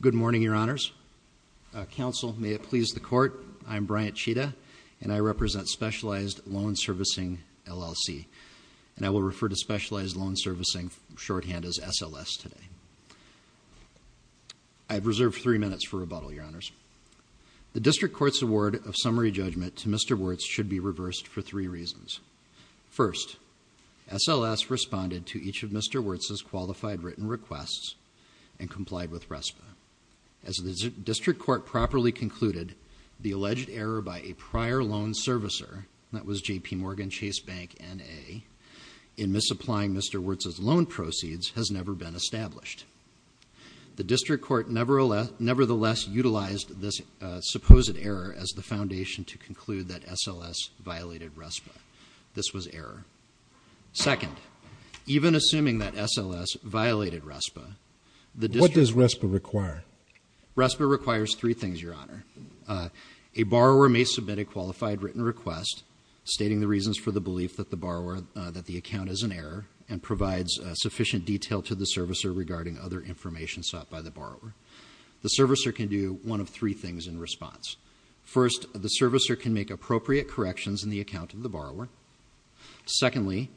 Good morning, Your Honors. Counsel may it please the Court, I am Bryant Cheetah, and I represent Specialized Loan Servicing, LLC, and I will refer to Specialized Loan Servicing shorthand as SLS today. I have reserved three minutes for rebuttal, Your Honors. The District Court's award of summary judgment to Mr. Wirtz should be reversed for three reasons. First, SLS responded to each of Mr. Wirtz's qualified written requests and complied with RESPA. As the District Court properly concluded, the alleged error by a prior loan servicer – that was J.P. Morgan Chase Bank, N.A. – in misapplying Mr. Wirtz's loan proceeds has never been established. The District Court nevertheless utilized this supposed error as the foundation to conclude that SLS violated RESPA. This was error. Second, even assuming that SLS violated RESPA, the District Court… What does RESPA require? RESPA requires three things, Your Honor. A borrower may submit a qualified written request stating the reasons for the belief that the account is an error and provides sufficient detail to the servicer regarding other information sought by the borrower. The servicer can do one of three things in response. First, the servicer can make appropriate corrections in the account of the borrower. Secondly,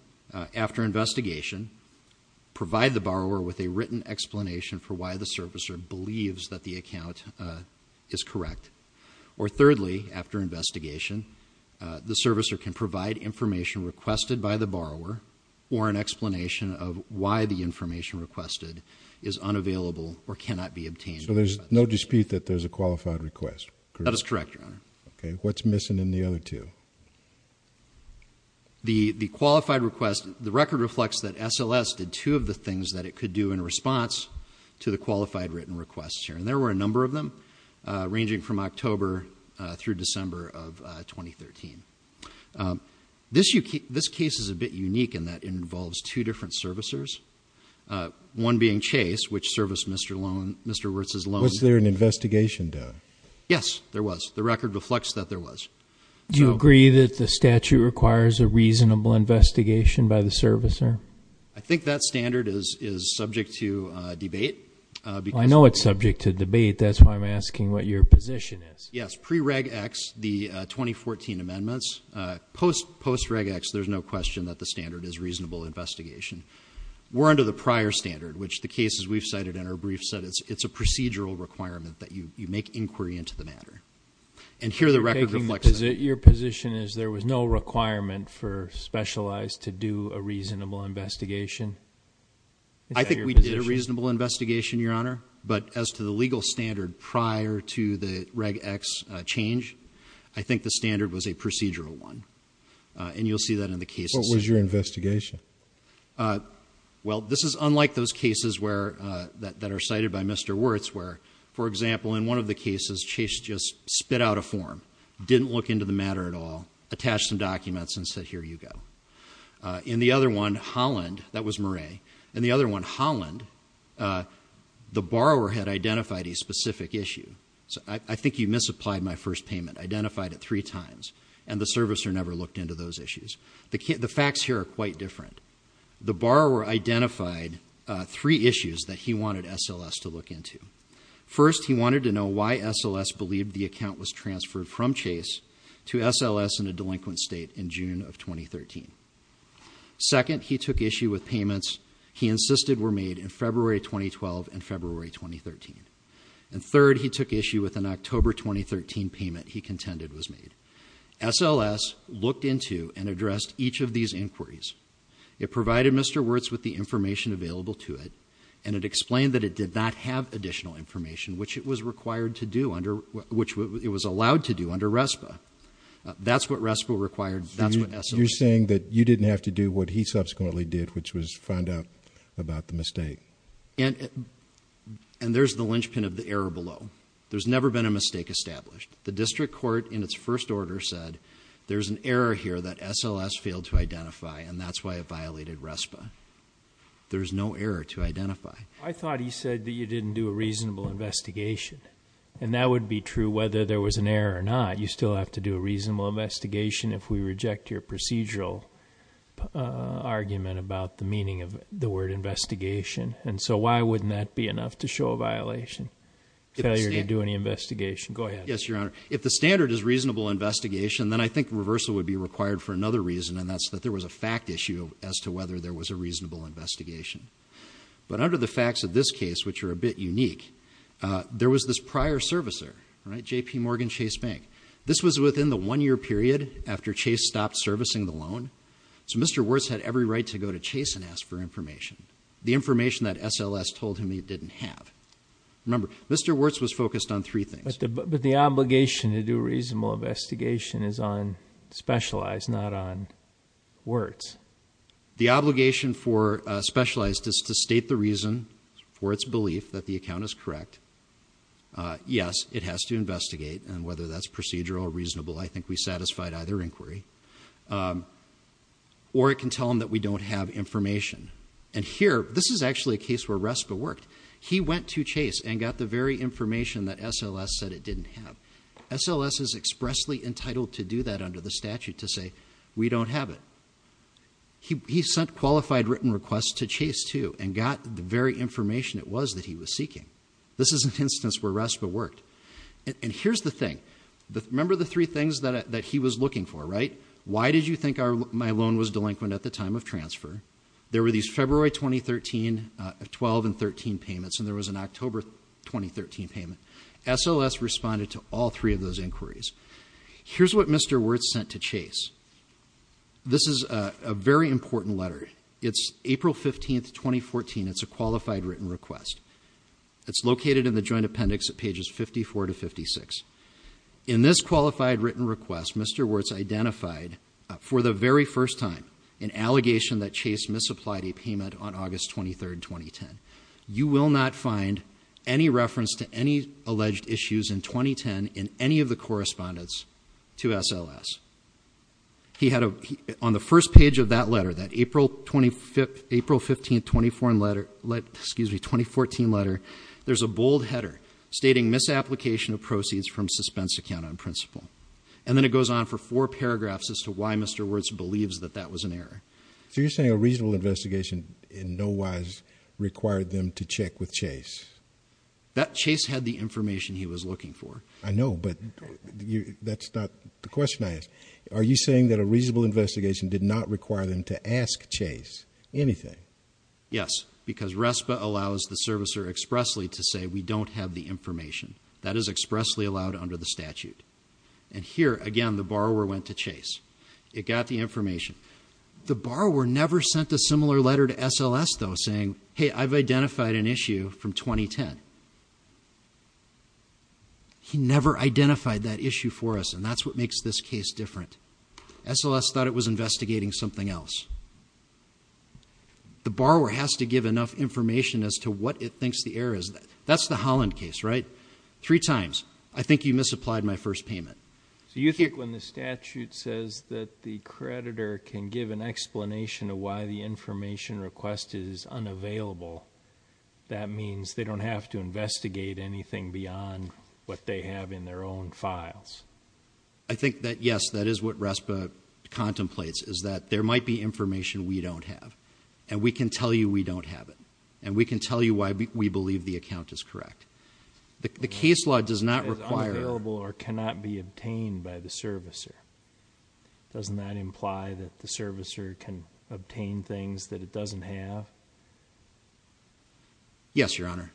after investigation, provide the borrower with a written explanation for why the servicer believes that the account is correct. Or thirdly, after investigation, the servicer can provide information requested by the borrower or an explanation of why the information requested is unavailable or cannot be obtained. So there's no dispute that there's a qualified request? That is correct, Your Honor. Okay. What's missing in the other two? The qualified request, the record reflects that SLS did two of the things that it could do in response to the qualified written requests here, and there were a number of them ranging from October through December of 2013. This case is a bit unique in that it involves two different servicers, one being Chase, which serviced Mr. Wertz's loan. Was there an investigation done? Yes, there was. The record reflects that there was. Do you agree that the statute requires a reasonable investigation by the servicer? I think that standard is subject to debate. I know it's subject to debate, that's why I'm asking what your position is. Yes, pre-reg X, the 2014 amendments, post-reg X, there's no question that the standard is reasonable investigation. We're under the prior standard, which the cases we've cited in our brief said it's a procedural requirement that you make inquiry into the matter. And here the record reflects that. Your position is there was no requirement for specialized to do a reasonable investigation? I think we did a reasonable investigation, Your Honor. But as to the legal standard prior to the reg X change, I think the standard was a procedural one. And you'll see that in the cases. What was your investigation? Well, this is unlike those cases that are cited by Mr. Wertz, where, for example, in one of the cases, Chase just spit out a form, didn't look into the matter at all, attached some documents, and said, here you go. In the other one, Holland, that was Murray, in the other one, Holland, the borrower had identified a specific issue. I think you misapplied my first payment, identified it three times, and the servicer never looked into those issues. The facts here are quite different. The borrower identified three issues that he wanted SLS to look into. First, he wanted to know why SLS believed the account was transferred from Chase to SLS in a delinquent state in June of 2013. Second, he took issue with payments he insisted were made in February 2012 and February 2013. And third, he took issue with an October 2013 payment he contended was made. SLS looked into and addressed each of these inquiries. It provided Mr. Wertz with the information available to it. And it explained that it did not have additional information, which it was allowed to do under RESPA. That's what RESPA required, that's what SLS- You're saying that you didn't have to do what he subsequently did, which was find out about the mistake. And there's the linchpin of the error below. There's never been a mistake established. The district court, in its first order, said there's an error here that SLS failed to identify, and that's why it violated RESPA. There's no error to identify. I thought he said that you didn't do a reasonable investigation. And that would be true whether there was an error or not. You still have to do a reasonable investigation if we reject your procedural argument about the meaning of the word investigation. And so why wouldn't that be enough to show a violation, failure to do any investigation? Go ahead. If the standard is reasonable investigation, then I think reversal would be required for another reason, and that's that there was a fact issue as to whether there was a reasonable investigation. But under the facts of this case, which are a bit unique, there was this prior servicer, JP Morgan Chase Bank. This was within the one year period after Chase stopped servicing the loan. So Mr. Wertz had every right to go to Chase and ask for information, the information that SLS told him he didn't have. Remember, Mr. Wertz was focused on three things. But the obligation to do a reasonable investigation is on specialized, not on Wertz. The obligation for specialized is to state the reason for its belief that the account is correct. Yes, it has to investigate, and whether that's procedural or reasonable, I think we satisfied either inquiry. Or it can tell him that we don't have information. And here, this is actually a case where RESPA worked. He went to Chase and got the very information that SLS said it didn't have. SLS is expressly entitled to do that under the statute, to say, we don't have it. He sent qualified written requests to Chase, too, and got the very information it was that he was seeking. This is an instance where RESPA worked. And here's the thing, remember the three things that he was looking for, right? Why did you think my loan was delinquent at the time of transfer? There were these February 2013, 12 and 13 payments, and there was an October 2013 payment. SLS responded to all three of those inquiries. Here's what Mr. Wertz sent to Chase. This is a very important letter. It's April 15th, 2014, it's a qualified written request. It's located in the joint appendix at pages 54 to 56. In this qualified written request, Mr. Wertz identified for the very first time an allegation that Chase misapplied a payment on August 23rd, 2010. You will not find any reference to any alleged issues in 2010 in any of the correspondence to SLS. On the first page of that letter, that April 15th, 2014 letter, there's a bold header stating misapplication of proceeds from suspense account on principle. And then it goes on for four paragraphs as to why Mr. Wertz believes that that was an error. So you're saying a reasonable investigation in no wise required them to check with Chase? That Chase had the information he was looking for. I know, but that's not the question I asked. Are you saying that a reasonable investigation did not require them to ask Chase anything? Yes, because RESPA allows the servicer expressly to say we don't have the information. That is expressly allowed under the statute. And here, again, the borrower went to Chase. It got the information. The borrower never sent a similar letter to SLS, though, saying, hey, I've identified an issue from 2010. He never identified that issue for us, and that's what makes this case different. SLS thought it was investigating something else. The borrower has to give enough information as to what it thinks the error is. That's the Holland case, right? Three times. I think you misapplied my first payment. So you think when the statute says that the creditor can give an explanation of why the information request is unavailable, that means they don't have to investigate anything beyond what they have in their own files? I think that yes, that is what RESPA contemplates, is that there might be information we don't have. And we can tell you we don't have it. And we can tell you why we believe the account is correct. The case law does not require- Is unavailable or cannot be obtained by the servicer. Doesn't that imply that the servicer can obtain things that it doesn't have? Yes, your honor,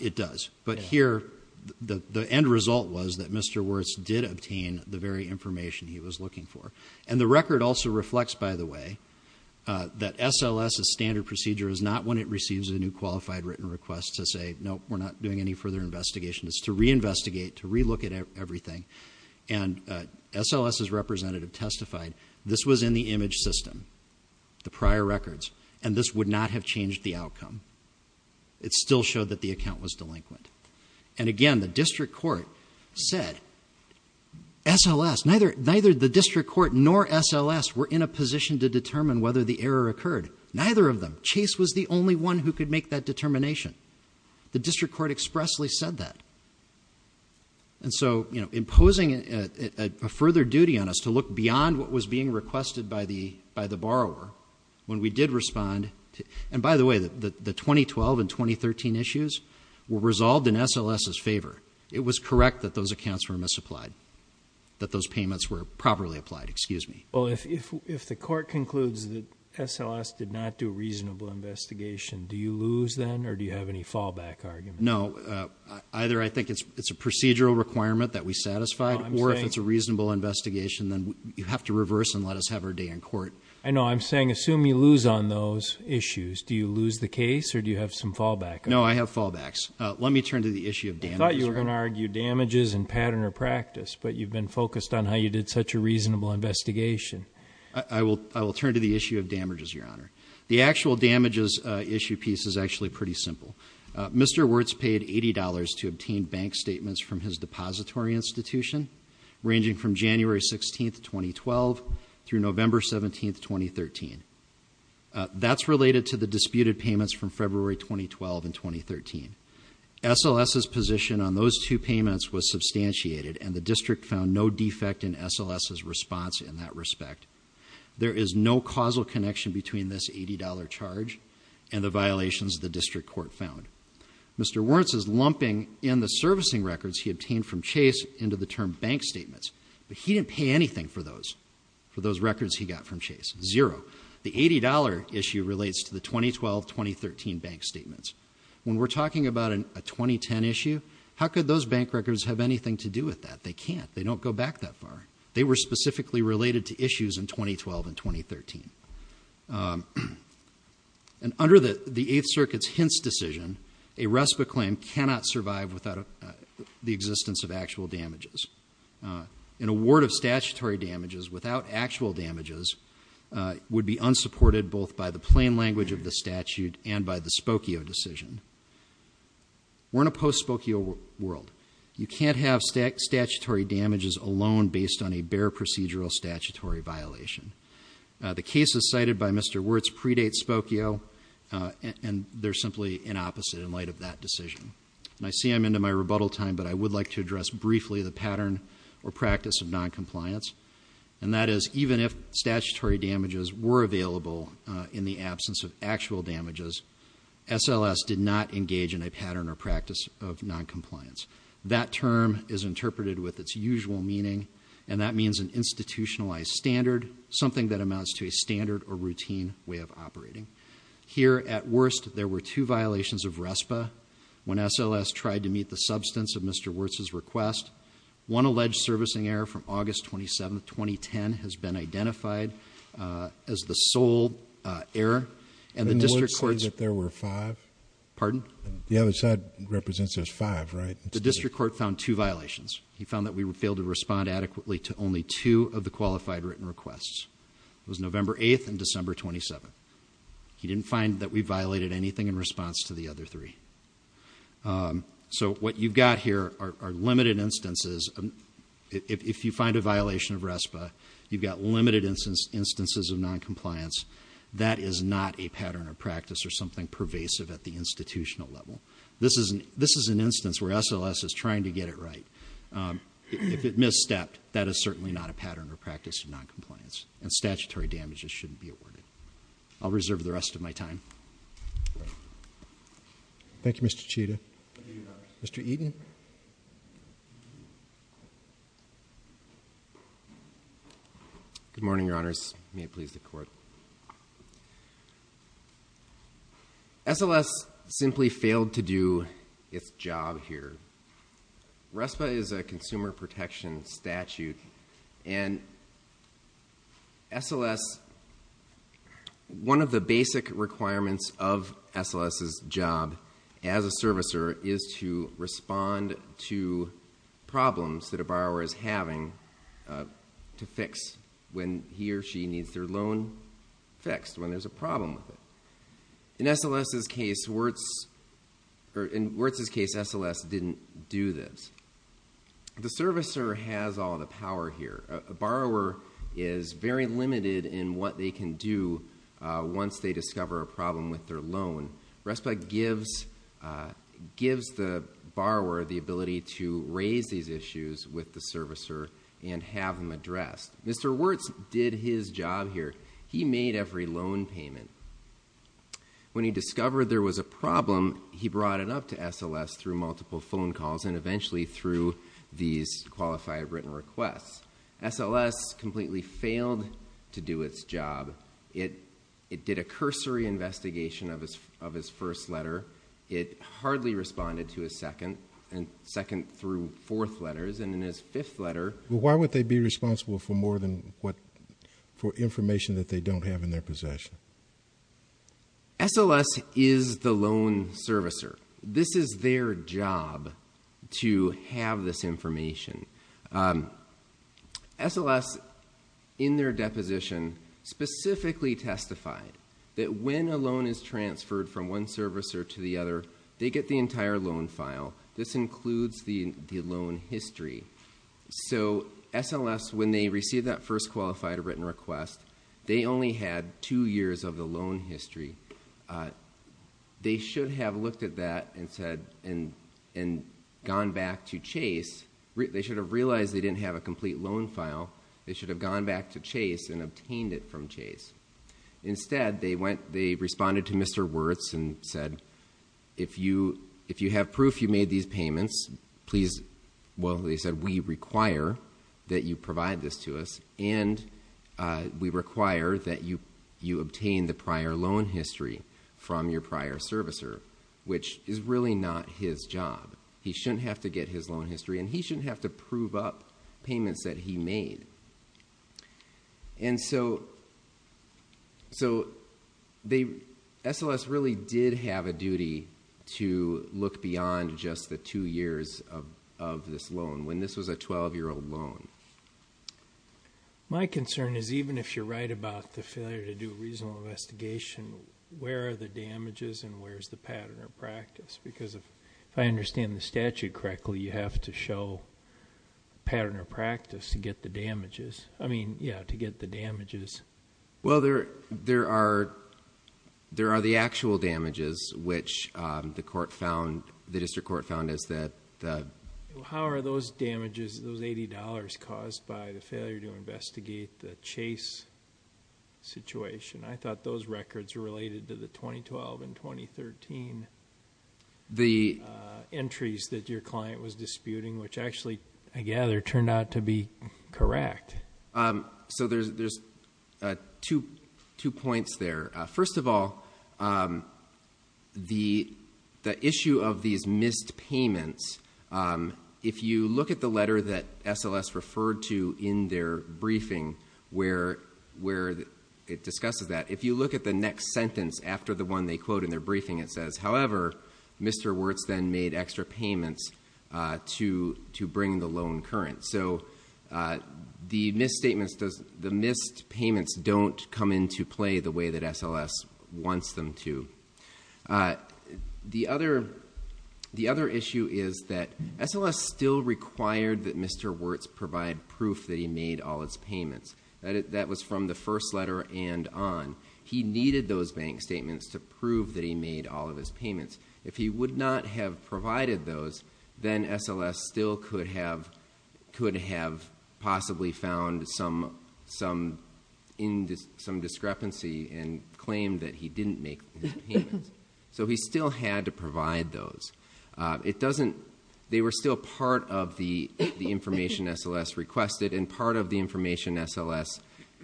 it does. But here, the end result was that Mr. Wirtz did obtain the very information he was looking for. And the record also reflects, by the way, that SLS's standard procedure is not when it receives a new qualified written request to say, nope, we're not doing any further investigation. It's to reinvestigate, to relook at everything. And SLS's representative testified, this was in the image system, the prior records. And this would not have changed the outcome. It still showed that the account was delinquent. And again, the district court said, SLS, neither the district court nor SLS were in a position to determine whether the error occurred, neither of them. Chase was the only one who could make that determination. The district court expressly said that. And so, imposing a further duty on us to look beyond what was being requested by the borrower. When we did respond, and by the way, the 2012 and 2013 issues were resolved in SLS's favor. It was correct that those accounts were misapplied, that those payments were properly applied, excuse me. Well, if the court concludes that SLS did not do a reasonable investigation, do you lose then, or do you have any fallback argument? No, either I think it's a procedural requirement that we satisfied, or if it's a reasonable investigation, then you have to reverse and let us have our day in court. I know, I'm saying assume you lose on those issues. Do you lose the case, or do you have some fallback? No, I have fallbacks. Let me turn to the issue of damages. I thought you were going to argue damages and pattern or practice, but you've been focused on how you did such a reasonable investigation. I will turn to the issue of damages, your honor. The actual damages issue piece is actually pretty simple. Mr. Wertz paid $80 to obtain bank statements from his depository institution, ranging from January 16th, 2012 through November 17th, 2013. That's related to the disputed payments from February 2012 and 2013. SLS's position on those two payments was substantiated, and the district found no defect in SLS's response in that respect. There is no causal connection between this $80 charge and the violations the district court found. Mr. Wertz's lumping in the servicing records he obtained from Chase into the term bank statements. But he didn't pay anything for those, for those records he got from Chase, zero. The $80 issue relates to the 2012, 2013 bank statements. When we're talking about a 2010 issue, how could those bank records have anything to do with that? They can't. They don't go back that far. They were specifically related to issues in 2012 and 2013. And under the Eighth Circuit's Hintz decision, a RESPA claim cannot survive without the existence of actual damages. An award of statutory damages without actual damages would be unsupported, both by the plain language of the statute and by the Spokio decision. We're in a post-Spokio world. You can't have statutory damages alone based on a bare procedural statutory violation. The cases cited by Mr. Wertz predate Spokio, and they're simply an opposite in light of that decision. And I see I'm into my rebuttal time, but I would like to address briefly the pattern or practice of non-compliance. And that is, even if statutory damages were available in the absence of actual damages, SLS did not engage in a pattern or practice of non-compliance. That term is interpreted with its usual meaning, and that means an institutionalized standard, something that amounts to a standard or routine way of operating. Here at worst, there were two violations of RESPA when SLS tried to meet the substance of Mr. Wertz's request. One alleged servicing error from August 27th, 2010 has been identified as the sole error. And the district courts- Didn't Wertz say that there were five? Pardon? The other side represents there's five, right? The district court found two violations. He found that we failed to respond adequately to only two of the qualified written requests. It was November 8th and December 27th. He didn't find that we violated anything in response to the other three. So what you've got here are limited instances. If you find a violation of RESPA, you've got limited instances of non-compliance. That is not a pattern of practice or something pervasive at the institutional level. This is an instance where SLS is trying to get it right. If it misstepped, that is certainly not a pattern or practice of non-compliance. And statutory damages shouldn't be awarded. I'll reserve the rest of my time. Thank you, Mr. Chita. Mr. Eaton. Good morning, your honors. May it please the court. SLS simply failed to do its job here. RESPA is a consumer protection statute. And SLS, one of the basic requirements of SLS's job as a servicer is to respond to problems that a borrower is having to fix when he or she needs their loan. Fixed when there's a problem with it. In Wirtz's case, SLS didn't do this. The servicer has all the power here. A borrower is very limited in what they can do once they discover a problem with their loan. RESPA gives the borrower the ability to raise these issues with the servicer and have them addressed. Mr. Wirtz did his job here. He made every loan payment. When he discovered there was a problem, he brought it up to SLS through multiple phone calls and eventually through these qualified written requests. SLS completely failed to do its job. It did a cursory investigation of his first letter. It hardly responded to his second through fourth letters. Why would they be responsible for more than what, for information that they don't have in their possession? SLS is the loan servicer. This is their job to have this information. SLS, in their deposition, specifically testified that when a loan is transferred from one servicer to the other, they get the entire loan file. This includes the loan history. So SLS, when they received that first qualified written request, they only had two years of the loan history. They should have looked at that and gone back to Chase. They should have realized they didn't have a complete loan file. They should have gone back to Chase and obtained it from Chase. Instead, they responded to Mr. Wirtz and said, if you have proof you made these payments, please. Well, they said, we require that you provide this to us, and we require that you obtain the prior loan history from your prior servicer, which is really not his job. He shouldn't have to get his loan history, and he shouldn't have to prove up payments that he made. And so SLS really did have a duty to look beyond just the two years of this loan, when this was a 12-year-old loan. My concern is even if you're right about the failure to do a reasonable investigation, where are the damages and where's the pattern or practice? Because if I understand the statute correctly, you have to show pattern or practice to get the damages. I mean, yeah, to get the damages. Well, there are the actual damages, which the district court found is that- How are those damages, those $80, caused by the failure to investigate the Chase situation? I thought those records were related to the 2012 and 2013. The entries that your client was disputing, which actually, I gather, turned out to be correct. So there's two points there. First of all, the issue of these missed payments, if you look at the letter that SLS referred to in their briefing, where it discusses that. If you look at the next sentence after the one they quote in their briefing, it says, however, Mr. Wirtz then made extra payments to bring the loan current. So the missed payments don't come into play the way that SLS wants them to. The other issue is that SLS still required that Mr. Wirtz provide proof that he made all his payments, that was from the first letter and on. He needed those bank statements to prove that he made all of his payments. If he would not have provided those, then SLS still could have possibly found some discrepancy and So he still had to provide those. They were still part of the information SLS requested and part of the information SLS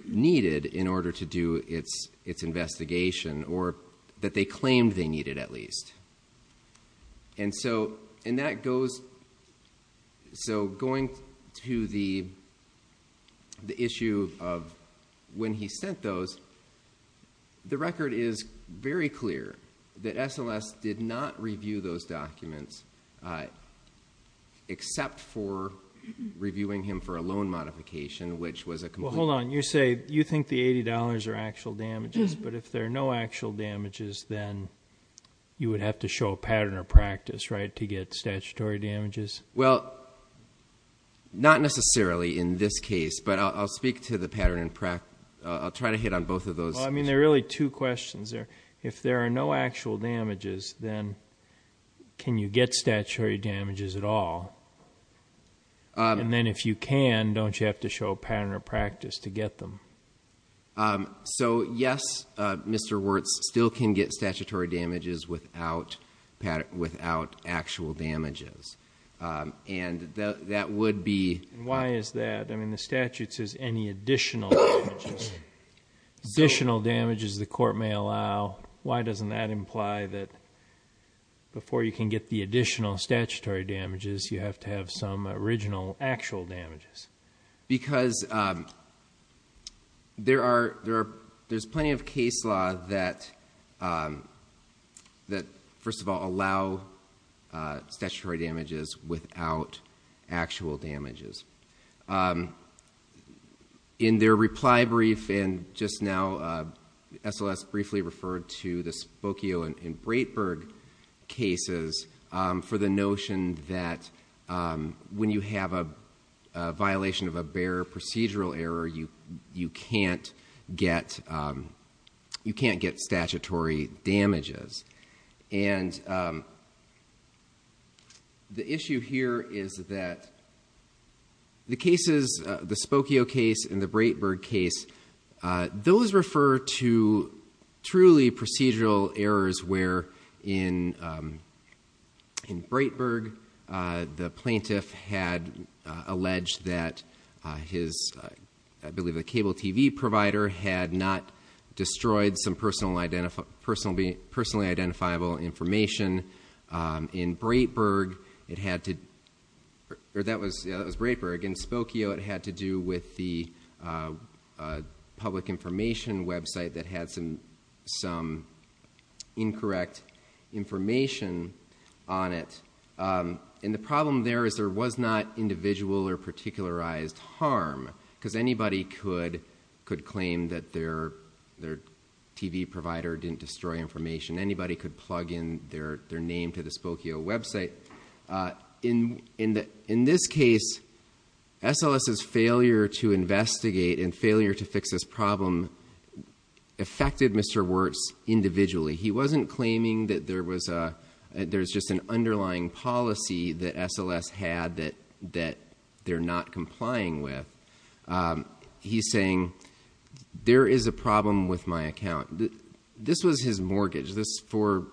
needed in order to do its investigation, or that they claimed they needed at least, and that goes. So going to the issue of when he sent those, The record is very clear that SLS did not review those documents, except for reviewing him for a loan modification, which was a complete. Well, hold on, you say you think the $80 are actual damages, but if there are no actual damages, then you would have to show a pattern of practice, right, to get statutory damages? Well, not necessarily in this case, but I'll speak to the pattern and I'll try to hit on both of those. I mean, there are really two questions there. If there are no actual damages, then can you get statutory damages at all? And then if you can, don't you have to show a pattern of practice to get them? So yes, Mr. Wirtz, still can get statutory damages without actual damages, and that would be. Why is that? I mean, the statute says any additional damages the court may allow. Why doesn't that imply that before you can get the additional statutory damages, you have to have some original actual damages? Because there's plenty of case law that, first of all, allow statutory damages without actual damages. In their reply brief, and just now, SLS briefly referred to the Spokio and Breitberg cases for the notion that when you have a violation of a bare procedural error, you can't get statutory damages. And the issue here is that the cases in the Spokio case and the Breitberg case, those refer to truly procedural errors where in Breitberg, the plaintiff had alleged that his, I believe, a cable TV provider had not destroyed some personally identifiable information. In Breitberg, it had to, or that was Breitberg. In Spokio, it had to do with the public information website that had some incorrect information on it. And the problem there is there was not individual or particularized harm, because anybody could claim that their TV provider didn't destroy information, anybody could plug in their name to the Spokio website. In this case, SLS's failure to investigate and failure to fix this problem affected Mr. Wertz individually. He wasn't claiming that there was just an underlying policy that SLS had that they're not complying with. He's saying, there is a problem with my account. This was his mortgage. This, for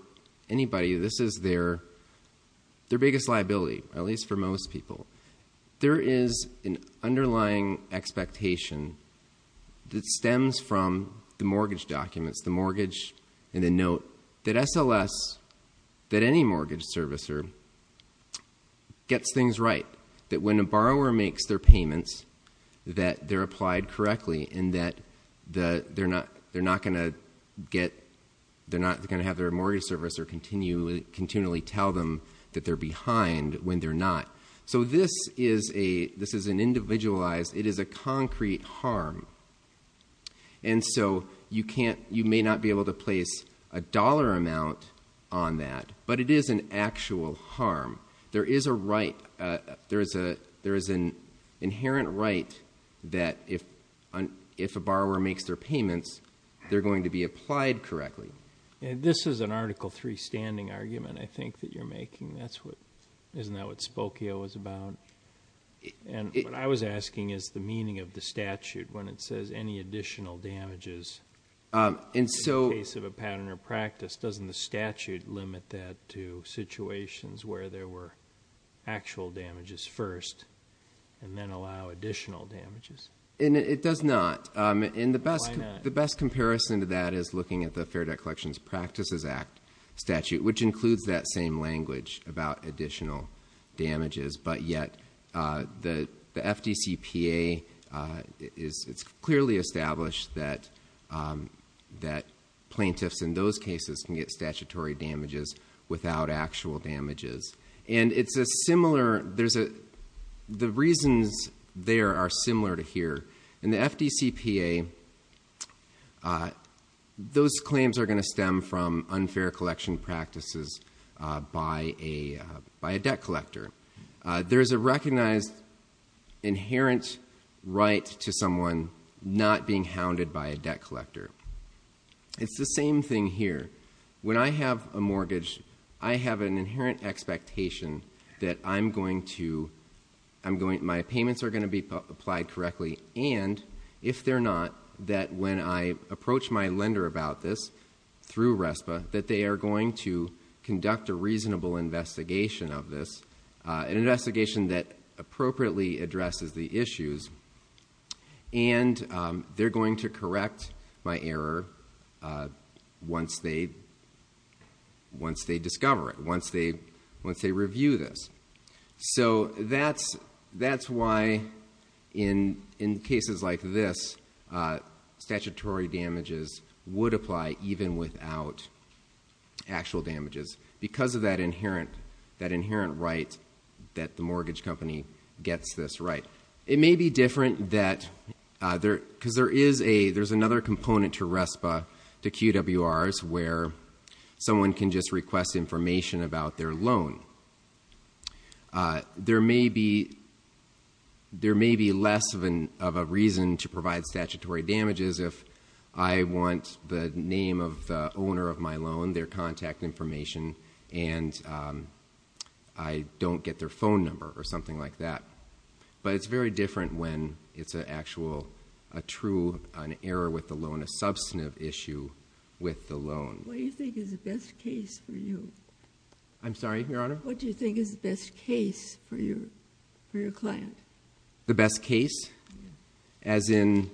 anybody, this is their biggest liability, at least for most people. There is an underlying expectation that stems from the mortgage documents, the mortgage and the note that SLS, that any mortgage servicer, gets things right, that when a borrower makes their payments, that they're applied correctly and that they're not going to have their mortgage servicer continually tell them that they're behind when they're not. So this is an individualized, it is a concrete harm. And so you may not be able to place a dollar amount on that, but it is an actual harm. There is a right, there is an inherent right that if a borrower makes their payments, they're going to be applied correctly. And this is an article three standing argument, I think, that you're making. That's what, isn't that what Spokio was about? And what I was asking is the meaning of the statute when it says any additional damages. In the case of a pattern or practice, doesn't the statute limit that to And it does not, and the best comparison to that is looking at the Fair Debt Collections Practices Act statute, which includes that same language about additional damages. But yet, the FDCPA, it's clearly established that plaintiffs in those cases can get statutory damages without actual damages. And it's a similar, the reasons there are similar to here. In the FDCPA, those claims are going to stem from unfair collection practices by a debt collector. There's a recognized inherent right to someone not being hounded by a debt collector. It's the same thing here. When I have a mortgage, I have an inherent expectation that I'm going to, my payments are going to be applied correctly, and if they're not, that when I approach my lender about this through RESPA, that they are going to conduct a reasonable investigation of this. And they're going to correct my error once they discover it, once they review this. So that's why in cases like this, statutory damages would apply even without actual damages, because of that inherent right that the mortgage company gets this right. It may be different that, because there's another component to RESPA, to QWRs, where someone can just request information about their loan. There may be less of a reason to provide statutory damages if I want the name of the owner of my loan, their contact information, and I don't get their phone number, or something like that. But it's very different when it's an actual, a true, an error with the loan, a substantive issue with the loan. What do you think is the best case for you? I'm sorry, Your Honor? What do you think is the best case for your client? The best case? As in,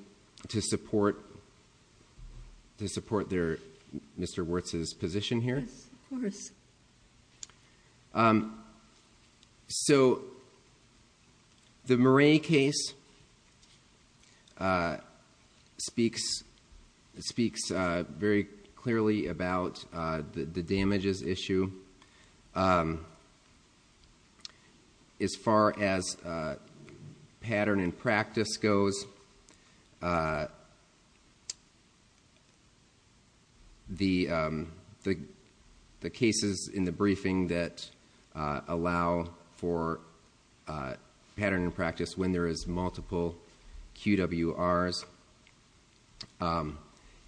to support Mr. Wirtz's position here? Yes, of course. So, the Murray case speaks very clearly about the damages issue. As far as pattern and practice goes, the case is very clear that this is in the briefing that allow for pattern and practice when there is multiple QWRs. And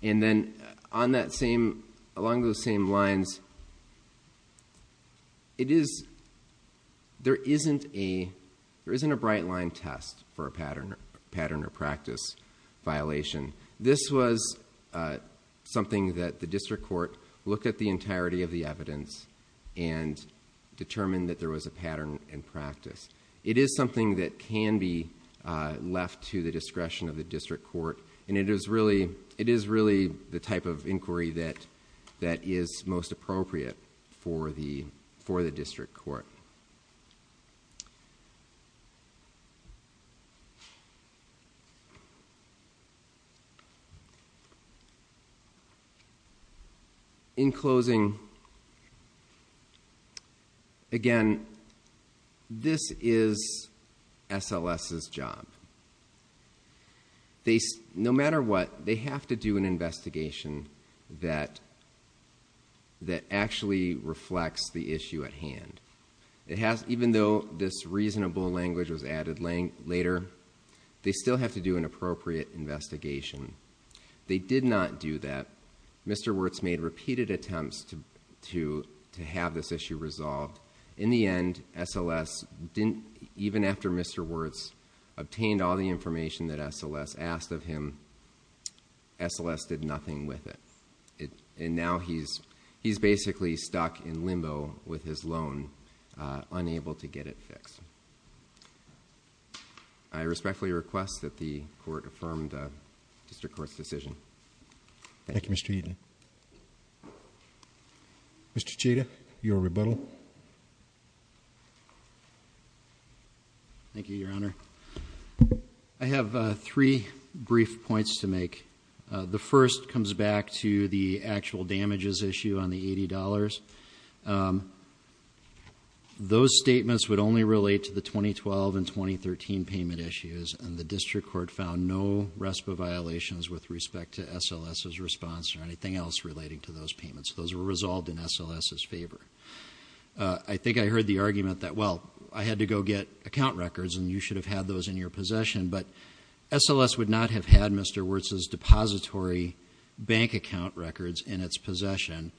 then, along those same lines, there isn't a bright line test for a pattern or practice violation. This was something that the district court looked at the entirety of the evidence, and determined that there was a pattern and practice. It is something that can be left to the discretion of the district court. And it is really the type of inquiry that is most appropriate for the district court. In closing, again, this is SLS's job. No matter what, they have to do an investigation that actually reflects the issue at hand. Even though this reasonable language was added later, they still have to do an appropriate investigation. They did not do that. Mr. Wirtz made repeated attempts to have this issue resolved. In the end, SLS didn't, even after Mr. Wirtz obtained all the information that SLS asked of him, SLS did nothing with it. And now he's basically stuck in limbo with his loan, unable to get it fixed. I respectfully request that the court affirm the district court's decision. Thank you, Mr. Eaton. Mr. Cheda, your rebuttal. Thank you, Your Honor. I have three brief points to make. The first comes back to the actual damages issue on the $80. Those statements would only relate to the 2012 and 2013 payment issues. And the district court found no RESPA violations with respect to SLS's response or anything else relating to those payments. Those were resolved in SLS's favor. I think I heard the argument that, well, I had to go get account records and you should have had those in your possession. But SLS would not have had Mr. Wirtz's depository bank account records in its possession.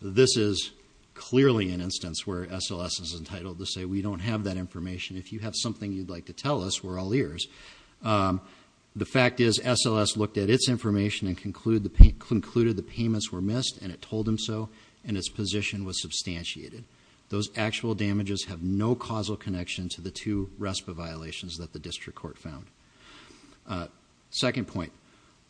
This is clearly an instance where SLS is entitled to say, we don't have that information. If you have something you'd like to tell us, we're all ears. The fact is, SLS looked at its information and concluded the payments were missed, and it told him so, and its position was substantiated. Those actual damages have no causal connection to the two RESPA violations that the district court found. Second point,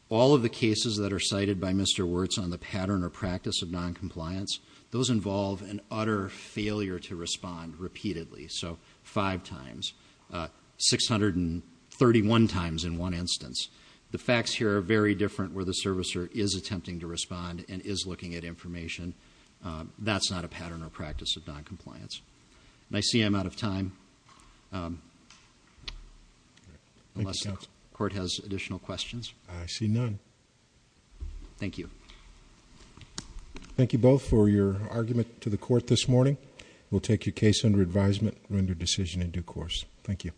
all of the cases that are cited by Mr. Wirtz on the pattern or practice of noncompliance, those involve an utter failure to respond repeatedly. So five times, 631 times in one instance. The facts here are very different where the servicer is attempting to respond and is looking at information. That's not a pattern or practice of noncompliance. I see I'm out of time. Unless the court has additional questions. I see none. Thank you. Thank you both for your argument to the court this morning. We'll take your case under advisement, render decision in due course. Thank you.